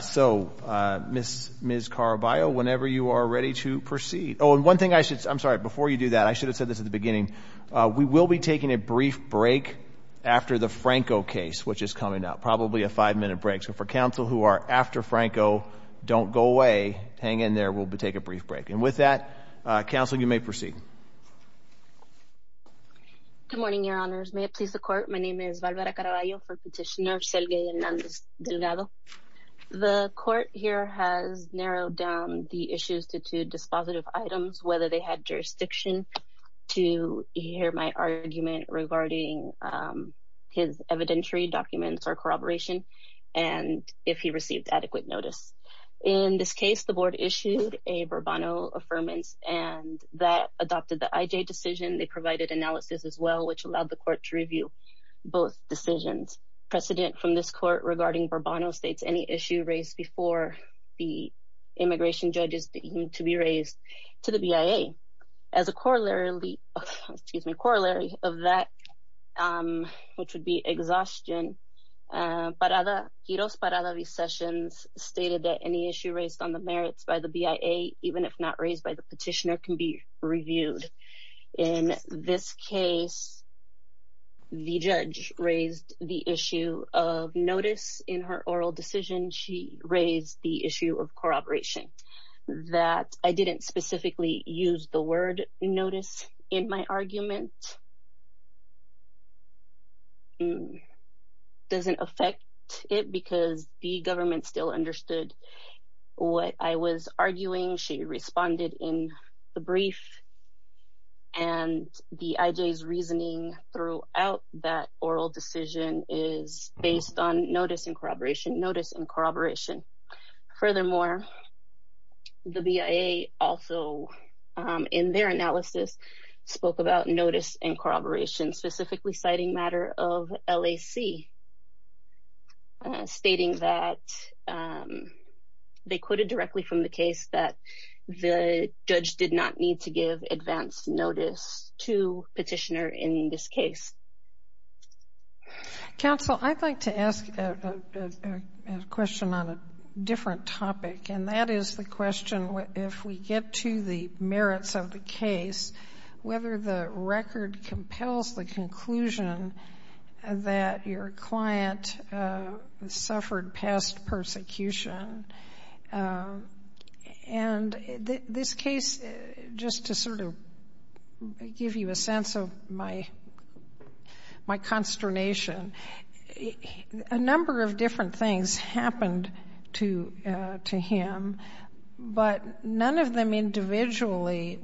So, Ms. Caraballo, whenever you are ready to proceed. Oh, and one thing I should, I'm sorry, before you do that, I should have said this at the beginning, we will be taking a brief break after the Franco case, which is coming up, probably a five-minute break. So for counsel who are after Franco, don't go away, hang in there, we'll take a brief break. And with that, counsel, you may proceed. Good morning, your honors. May it please the court, my name is Valvera Caraballo for petitioner, Serguey Hernandez Delgado. The court here has narrowed down the issues to two dispositive items, whether they had jurisdiction to hear my argument regarding his evidentiary documents or corroboration, and if he received adequate notice. In this case, the board issued a bravado affirmance and that adopted the IJ decision. They provided analysis as well, which allowed the court to review both decisions. Precedent from this court regarding Barbano states any issue raised before the immigration judges deemed to be raised to the BIA. As a corollary, excuse me, corollary of that, which would be exhaustion, Parada, Quiros Parada V. Sessions, stated that any issue raised on the merits by the BIA, even if not raised by the petitioner can be reviewed. In this case, the judge raised the issue of notice in her oral decision. She raised the issue of corroboration that I didn't specifically use the word notice in my argument. Doesn't affect it because the government still understood what I was arguing. She responded in the brief and the IJ's reasoning throughout that oral decision is based on notice and corroboration, notice and corroboration. Furthermore, the BIA also in their analysis spoke about notice and corroboration, specifically citing matter of LAC, stating that they quitted directly from the case that the judge did not need to give advance notice to petitioner in this case. Council, I'd like to ask a question on a different topic. And that is the question, if we get to the merits of the case, whether the record compels the conclusion that your client suffered past persecution. And this case, just to sort of give you a sense of my consternation, a number of different things happened to him, but none of them individually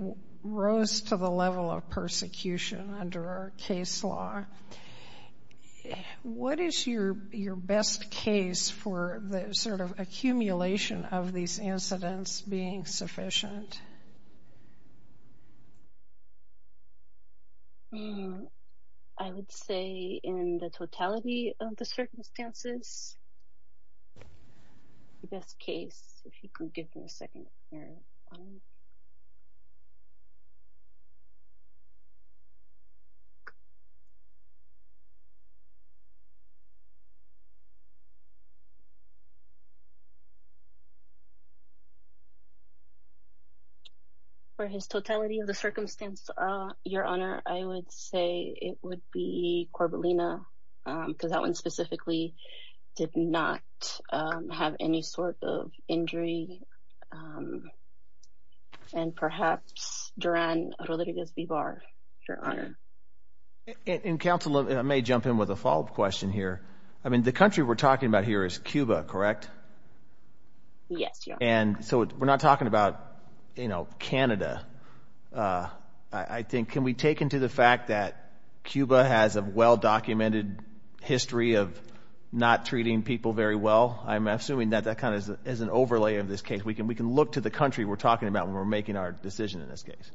rose to the level of persecution under our case law. What is your best case for the sort of accumulation of these incidents being sufficient? I would say in the totality of the circumstances, the best case, if you could give me a second here. For his totality of the circumstance, your honor, I would say it would be Corbelina because that one specifically did not have any sort of injury. And perhaps Duran Rodriguez-Bivar, your honor. And council, I may jump in with a follow up question here. I mean, the country we're talking about here is Cuba, correct? Yes, your honor. And so we're not talking about Canada. I think, can we take into the fact that Cuba has a well-documented history of not treating people very well? I'm assuming that that kind of is an overlay of this case. We can look to the country we're talking about when we're making our decision in this case.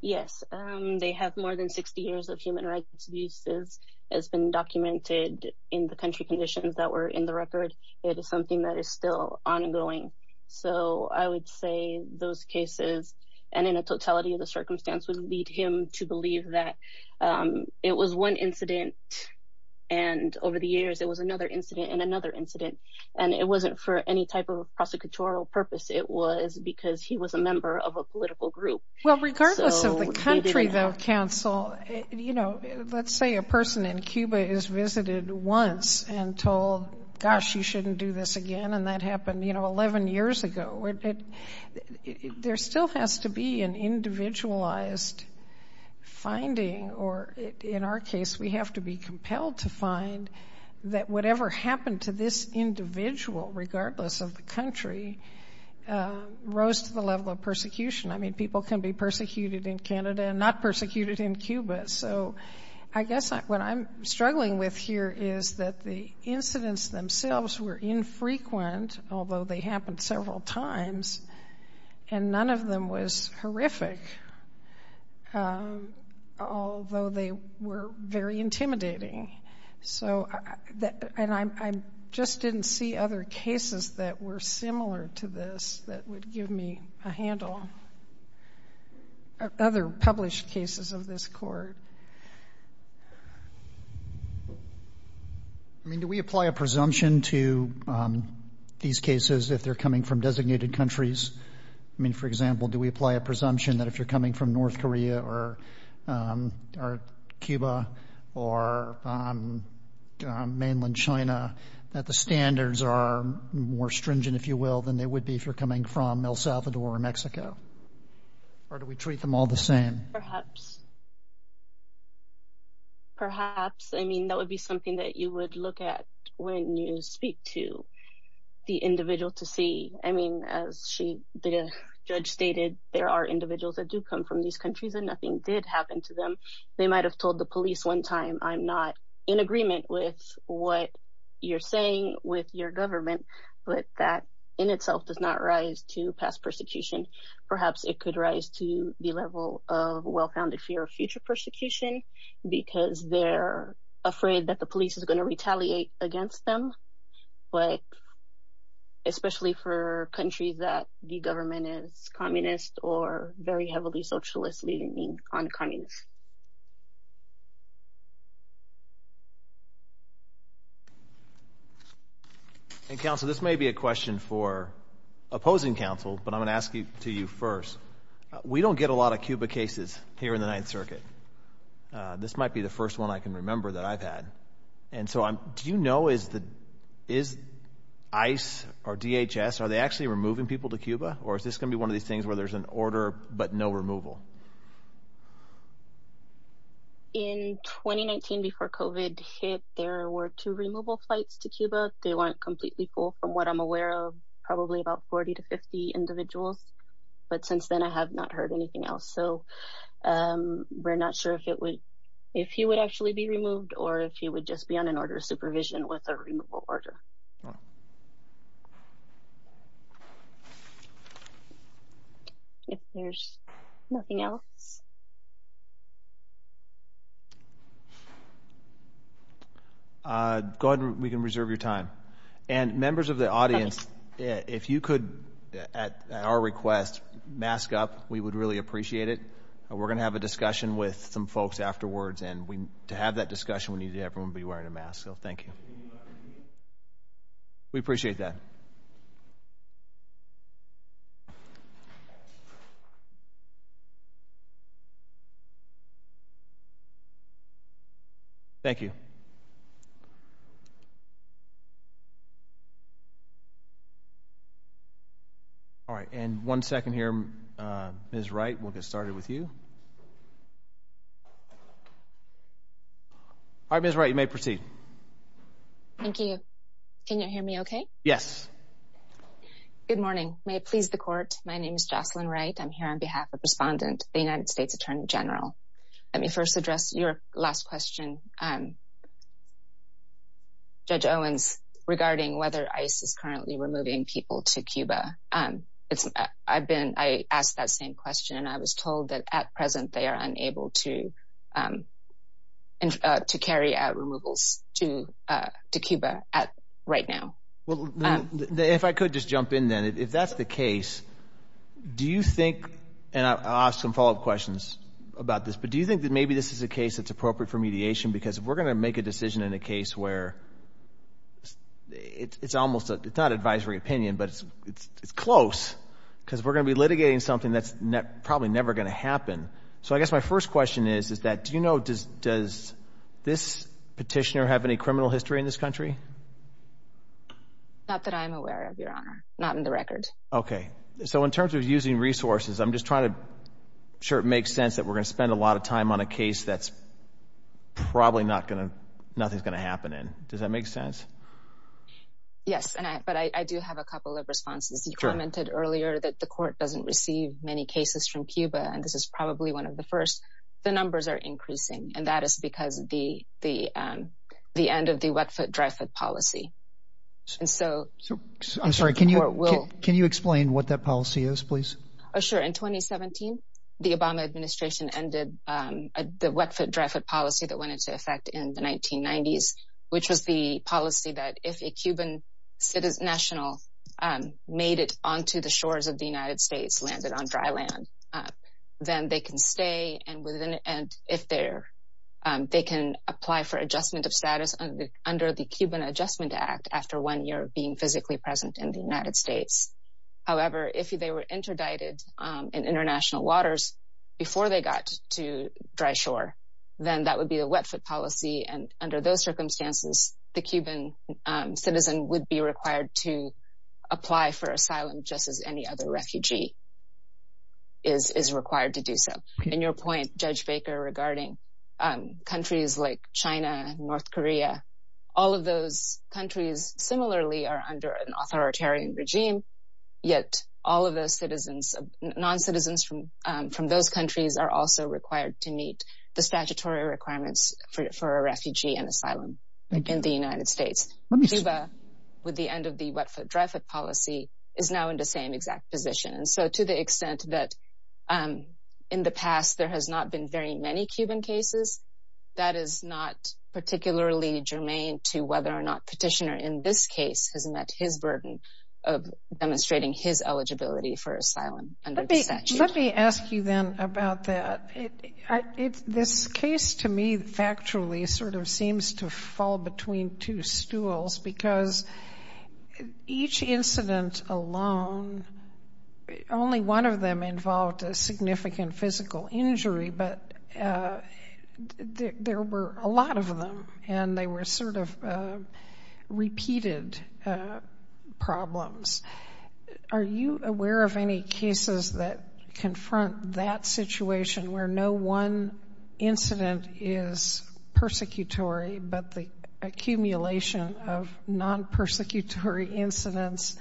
Yes, they have more than 60 years of human rights abuses as been documented in the country conditions that were in the record. It is something that is still ongoing. So I would say those cases and in a totality of the circumstance would lead him to believe that it was one incident. And over the years, it was another incident and another incident. And it wasn't for any type of prosecutorial purpose. It was because he was a member of a political group. Well, regardless of the country though, council, let's say a person in Cuba is visited once and told, gosh, you shouldn't do this again. And that happened 11 years ago. There still has to be an individualized finding or in our case, we have to be compelled to find that whatever happened to this individual regardless of the country rose to the level of persecution. I mean, people can be persecuted in Canada and not persecuted in Cuba. So I guess what I'm struggling with here is that the incidents themselves were infrequent, although they happened several times and none of them was horrific, although they were very intimidating. So, and I just didn't see other cases that were similar to this that would give me a handle, other published cases of this court. I mean, do we apply a presumption to these cases if they're coming from designated countries? I mean, for example, do we apply a presumption that if you're coming from North Korea or Cuba or mainland China, that the standards are more stringent, if you will, than they would be if you're coming from El Salvador or Mexico? Or do we treat them all the same? Perhaps. Perhaps, I mean, that would be something that you would look at when you speak to the individual to see. I mean, as the judge stated, there are individuals that do come from these countries and nothing did happen to them. They might've told the police one time, I'm not in agreement with what you're saying with your government, but that in itself does not rise to past persecution. Perhaps it could rise to the level of well-founded fear of future persecution because they're afraid that the police is gonna retaliate against them, but especially for countries that the government is communist or very heavily socialist, meaning non-communist. And Counsel, this may be a question for opposing counsel, but I'm gonna ask it to you first. We don't get a lot of Cuba cases here in the Ninth Circuit. This might be the first one I can remember that I've had. And so do you know, is ICE or DHS, are they actually removing people to Cuba? Or is this gonna be one of these things where there's an order, but no removal? In 2019, before COVID hit, there were two removal flights to Cuba. They weren't completely full from what I'm aware of, probably about 40 to 50 individuals. But since then, I have not heard anything else. So we're not sure if he would actually be removed or if he would just be on an order of supervision with a removal order. If there's nothing else. Go ahead, we can reserve your time. And members of the audience, if you could, at our request, mask up, we would really appreciate it. We're gonna have a discussion with some folks afterwards and to have that discussion, we need everyone to be wearing a mask. So thank you. We appreciate that. Thank you. All right, and one second here, Ms. Wright, we'll get started with you. All right, Ms. Wright, you may proceed. Thank you. Can you hear me okay? Yes. Good morning. May it please the court. My name is Jocelyn Wright. I'm here on behalf of the respondent, Let me first address your last question. What is the role of the U.S. Department of Justice Judge Owens regarding whether ICE is currently removing people to Cuba? I asked that same question. I was told that at present, they are unable to carry out removals to Cuba right now. If I could just jump in then, if that's the case, do you think, and I'll ask some follow-up questions about this, but do you think that maybe this is a case that's appropriate for mediation? Because if we're gonna make a decision in a case where it's almost, it's not advisory opinion, but it's close, because if we're gonna be litigating something that's probably never gonna happen. So I guess my first question is, is that do you know, does this petitioner have any criminal history in this country? Not that I'm aware of, Your Honor. Not in the record. Okay. So in terms of using resources, I'm just trying to make sure it makes sense that we're gonna spend a lot of time on a case that's probably not gonna, nothing's gonna happen in. Does that make sense? Yes, but I do have a couple of responses. You commented earlier that the court doesn't receive many cases from Cuba, and this is probably one of the first. The numbers are increasing, and that is because the end of the wet foot, dry foot policy. And so, I'm sorry, can you explain what that policy is, please? Oh, sure. In 2017, the Obama administration ended the wet foot, dry foot policy that went into effect in the 1990s, which was the policy that if a Cuban national made it onto the shores of the United States, landed on dry land, then they can stay, and if they're, they can apply for adjustment of status under the Cuban Adjustment Act after one year of being physically present in the United States. However, if they were interdicted in international waters before they got to dry shore, then that would be a wet foot policy, and under those circumstances, the Cuban citizen would be required to apply for asylum just as any other refugee is required to do so. In your point, Judge Baker, regarding countries like China and North Korea, all of those countries similarly are under an authoritarian regime, yet all of those citizens, non-citizens from those countries are also required to meet the statutory requirements for a refugee and asylum in the United States. Cuba, with the end of the wet foot, dry foot policy, is now in the same exact position, and so to the extent that in the past there has not been very many Cuban cases, that is not particularly germane to whether or not petitioner in this case has met his burden of demonstrating his eligibility for asylum under the statute. Let me ask you then about that. This case to me, factually, sort of seems to fall between two stools because each incident alone, only one of them involved a significant physical injury, but there were a lot of them, and they were sort of repeated problems. Are you aware of any cases that confront that situation where no one incident is persecutory, but the accumulation of non-persecutory incidents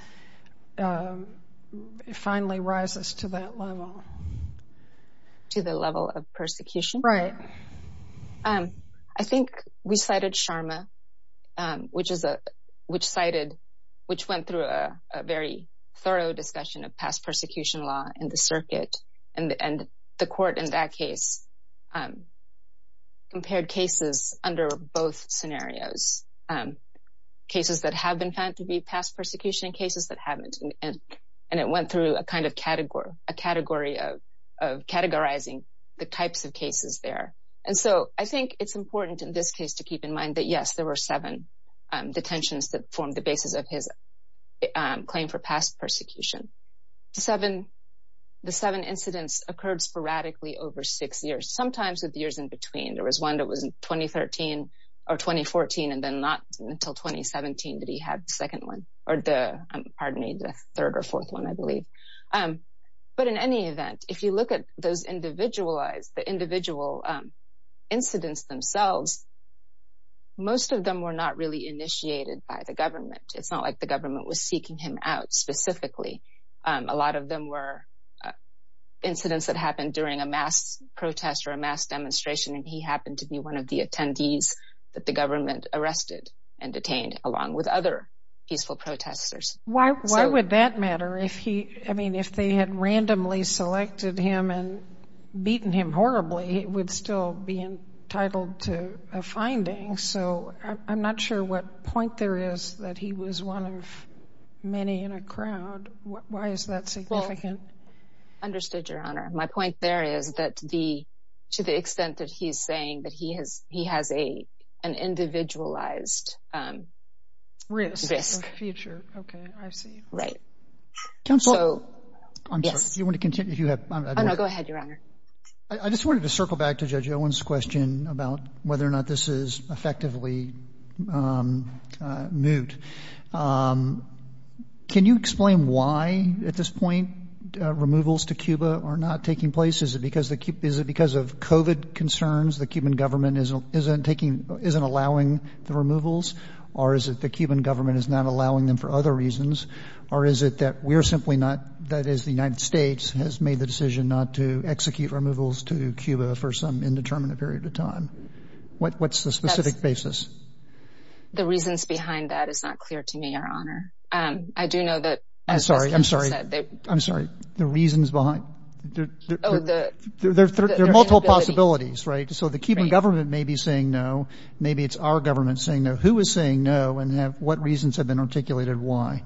finally rises to that level? To the level of persecution? Right. I think we cited Sharma, which went through a very thorough discussion of past persecution law in the circuit, and the court in that case compared cases under both scenarios, cases that have been found to be past persecution and cases that haven't, and it went through a kind of category of categorizing the types of cases there, and so I think it's important in this case to keep in mind that, yes, there were seven detentions that formed the basis of his claim for past persecution. The seven incidents occurred sporadically over six years, sometimes with years in between. There was one that was in 2013 or 2014, and then not until 2017 that he had the second one, or the, pardon me, the third or fourth one, I believe, but in any event, if you look at those individualized, the individual incidents themselves, most of them were not really initiated by the government. It's not like the government was seeking him out specifically. A lot of them were incidents that happened during a mass protest or a mass demonstration, and he happened to be one of the attendees that the government arrested and detained, along with other peaceful protesters. Why would that matter if he, I mean, if they had randomly selected him and beaten him horribly, he would still be entitled to a finding, so I'm not sure what point there is that he was one of many in a crowd. Why is that significant? I understood, Your Honor. My point there is that the, to the extent that he's saying that he has an individualized risk. Future, okay, I see. Right. Counselor. I'm sorry. Do you want to continue? Oh, no, go ahead, Your Honor. I just wanted to circle back to Judge Owen's question about whether or not this is effectively moot. Can you explain why, at this point, removals to Cuba are not taking place? Is it because of COVID concerns the Cuban government isn't allowing the removals, or is it the Cuban government is not allowing them for other reasons, or is it that we're simply not, that is, the United States has made the decision not to execute removals to Cuba for some indeterminate period of time? What's the specific basis? The reasons behind that is not clear to me, Your Honor. I do know that- I'm sorry, I'm sorry, I'm sorry. The reasons behind, there are multiple possibilities, right? So the Cuban government may be saying no. Maybe it's our government saying no. Who is saying no, and what reasons have been articulated why?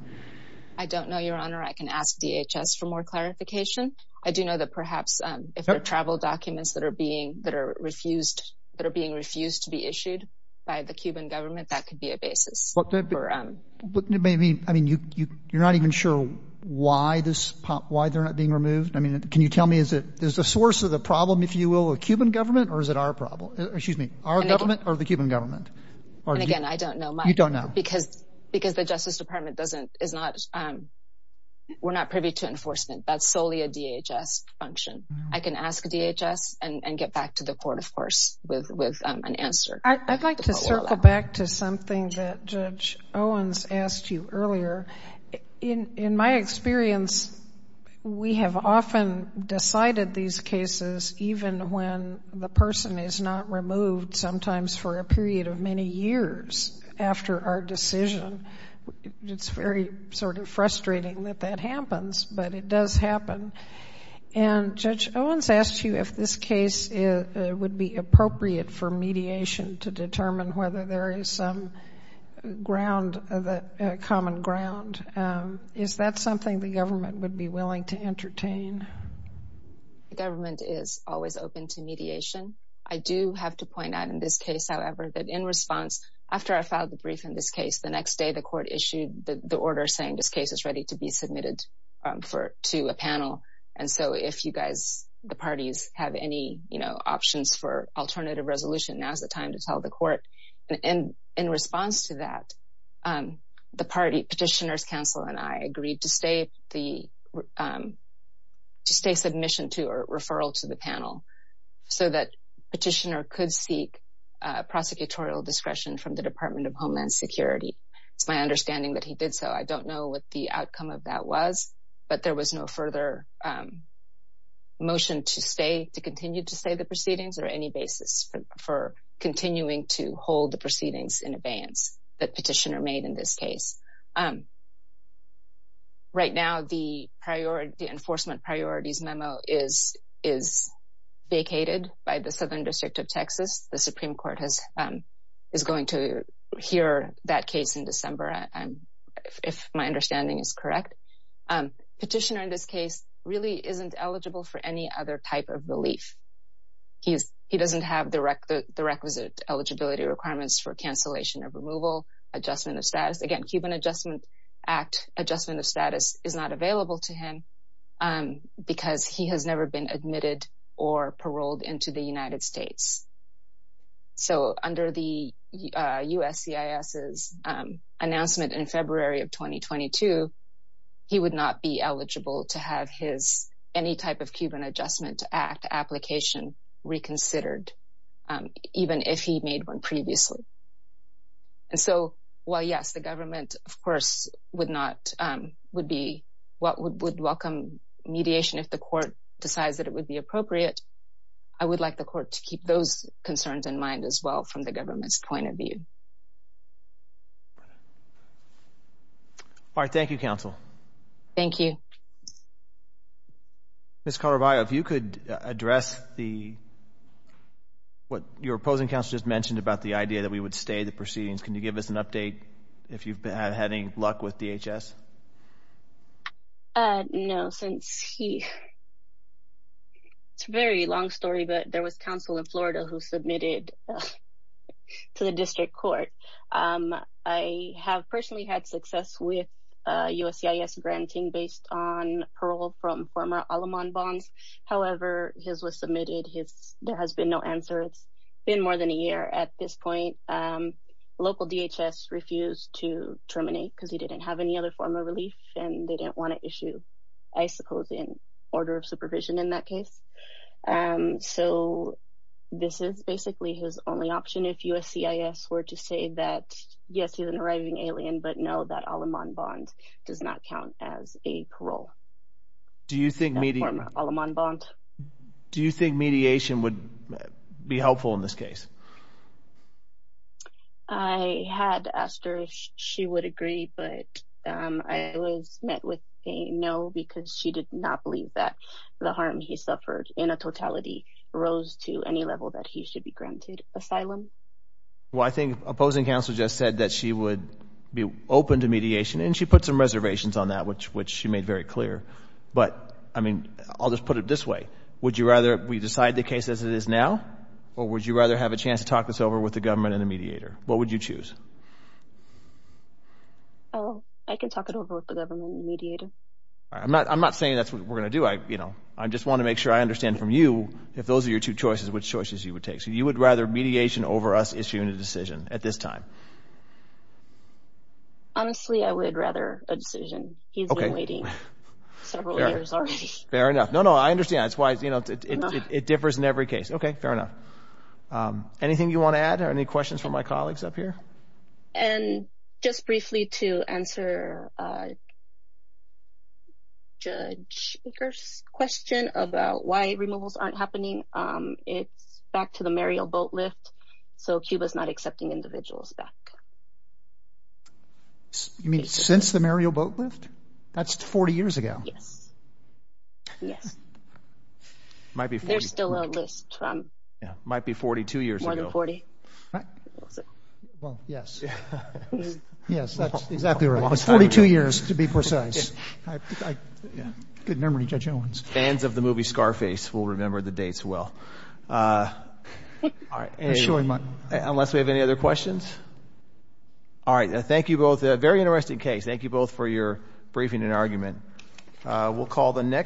I don't know, Your Honor. I can ask DHS for more clarification. I do know that perhaps if there are travel documents that are being refused to be issued by the Cuban government, that could be a basis. You're not even sure why they're not being removed? Can you tell me, is it the source of the problem, if you will, of the Cuban government, or is it our problem, excuse me, our government or the Cuban government? And again, I don't know. You don't know. Because the Justice Department doesn't, is not, we're not privy to enforcement. That's solely a DHS function. I can ask DHS and get back to the court, of course, with an answer. I'd like to circle back to something that Judge Owens asked you earlier. In my experience, we have often decided these cases even when the person is not removed, sometimes for a period of many years after our decision. It's very sort of frustrating that that happens, but it does happen. And Judge Owens asked you if this case would be appropriate for mediation to determine whether there is some common ground. Is that something the government would be willing to entertain? The government is always open to mediation. I do have to point out in this case, however, that in response, after I filed the brief in this case, the next day the court issued the order saying this case is ready to be submitted to a panel. And so if you guys, the parties, have any options for alternative resolution, now's the time to tell the court. And in response to that, the party, Petitioner's Council and I agreed to stay the, to stay submission to a referral to the panel so that Petitioner could seek prosecutorial discretion from the Department of Homeland Security. It's my understanding that he did so. I don't know what the outcome of that was, but there was no further motion to stay, to continue to stay the proceedings, or any basis for continuing to hold the proceedings in abeyance that Petitioner made in this case. Right now, the enforcement priorities memo is vacated by the Southern District of Texas. The Supreme Court is going to hear that case in December, if my understanding is correct. Petitioner in this case really isn't eligible for any other type of relief. He doesn't have the requisite eligibility requirements for cancellation of removal, adjustment of status. Again, Cuban Adjustment Act adjustment of status is not available to him because he has never been admitted or paroled into the United States. So under the USCIS's announcement in February of 2022, he would not be eligible to have his, any type of Cuban Adjustment Act application reconsidered, even if he made one previously. And so, while yes, the government of course would not, would be, would welcome mediation if the court decides that it would be appropriate, I would like the court to keep those concerns in mind as well from the government's point of view. All right, thank you, counsel. Thank you. Ms. Caraballo, if you could address the, what your opposing counsel just mentioned about the idea that we would stay the proceedings. Can you give us an update if you've had any luck with DHS? No, since he, it's a very long story, but there was counsel in Florida who submitted to the district court. I have personally had success with USCIS granting based on parole from former Alamon bonds. However, his was submitted, there has been no answer. It's been more than a year at this point. Local DHS refused to terminate because he didn't have any other form of relief and they didn't want to issue I suppose in order of supervision in that case. So, this is basically his only option if USCIS were to say that, yes, he's an arriving alien, but know that Alamon bonds does not count as a parole. Do you think mediation- Alamon bond. Do you think mediation would be helpful in this case? I had asked her if she would agree, but I was met with a no because she did not believe that the harm he suffered in a totality rose to any level that he should be granted asylum. Well, I think opposing counsel just said that she would be open to mediation and she put some reservations on that, which she made very clear. But, I mean, I'll just put it this way. Would you rather we decide the case as it is now or would you rather have a chance to talk this over with the government and the mediator? What would you choose? Oh, I can talk it over with the government and the mediator. I'm not saying that's what we're going to do. I just want to make sure I understand from you, if those are your two choices, which choices you would take. So, you would rather mediation over us issuing a decision at this time? Honestly, I would rather a decision. He's been waiting several years already. Fair enough. No, no, I understand. That's why it differs in every case. Okay, fair enough. Anything you want to add or any questions from my colleagues up here? And just briefly to answer Judge Baker's question about why removals aren't happening. It's back to the Mariel Boatlift. So, Cuba's not accepting individuals back. You mean since the Mariel Boatlift? That's 40 years ago. Yes, yes. Might be 40. There's still a list. Might be 42 years ago. More than 40. Well, yes. Yes, that's exactly right. It was 42 years to be precise. Good memory, Judge Owens. Fans of the movie Scarface will remember the dates well. Unless we have any other questions? All right, thank you both. A very interesting case. Thank you both for your briefing and argument. We'll call the next.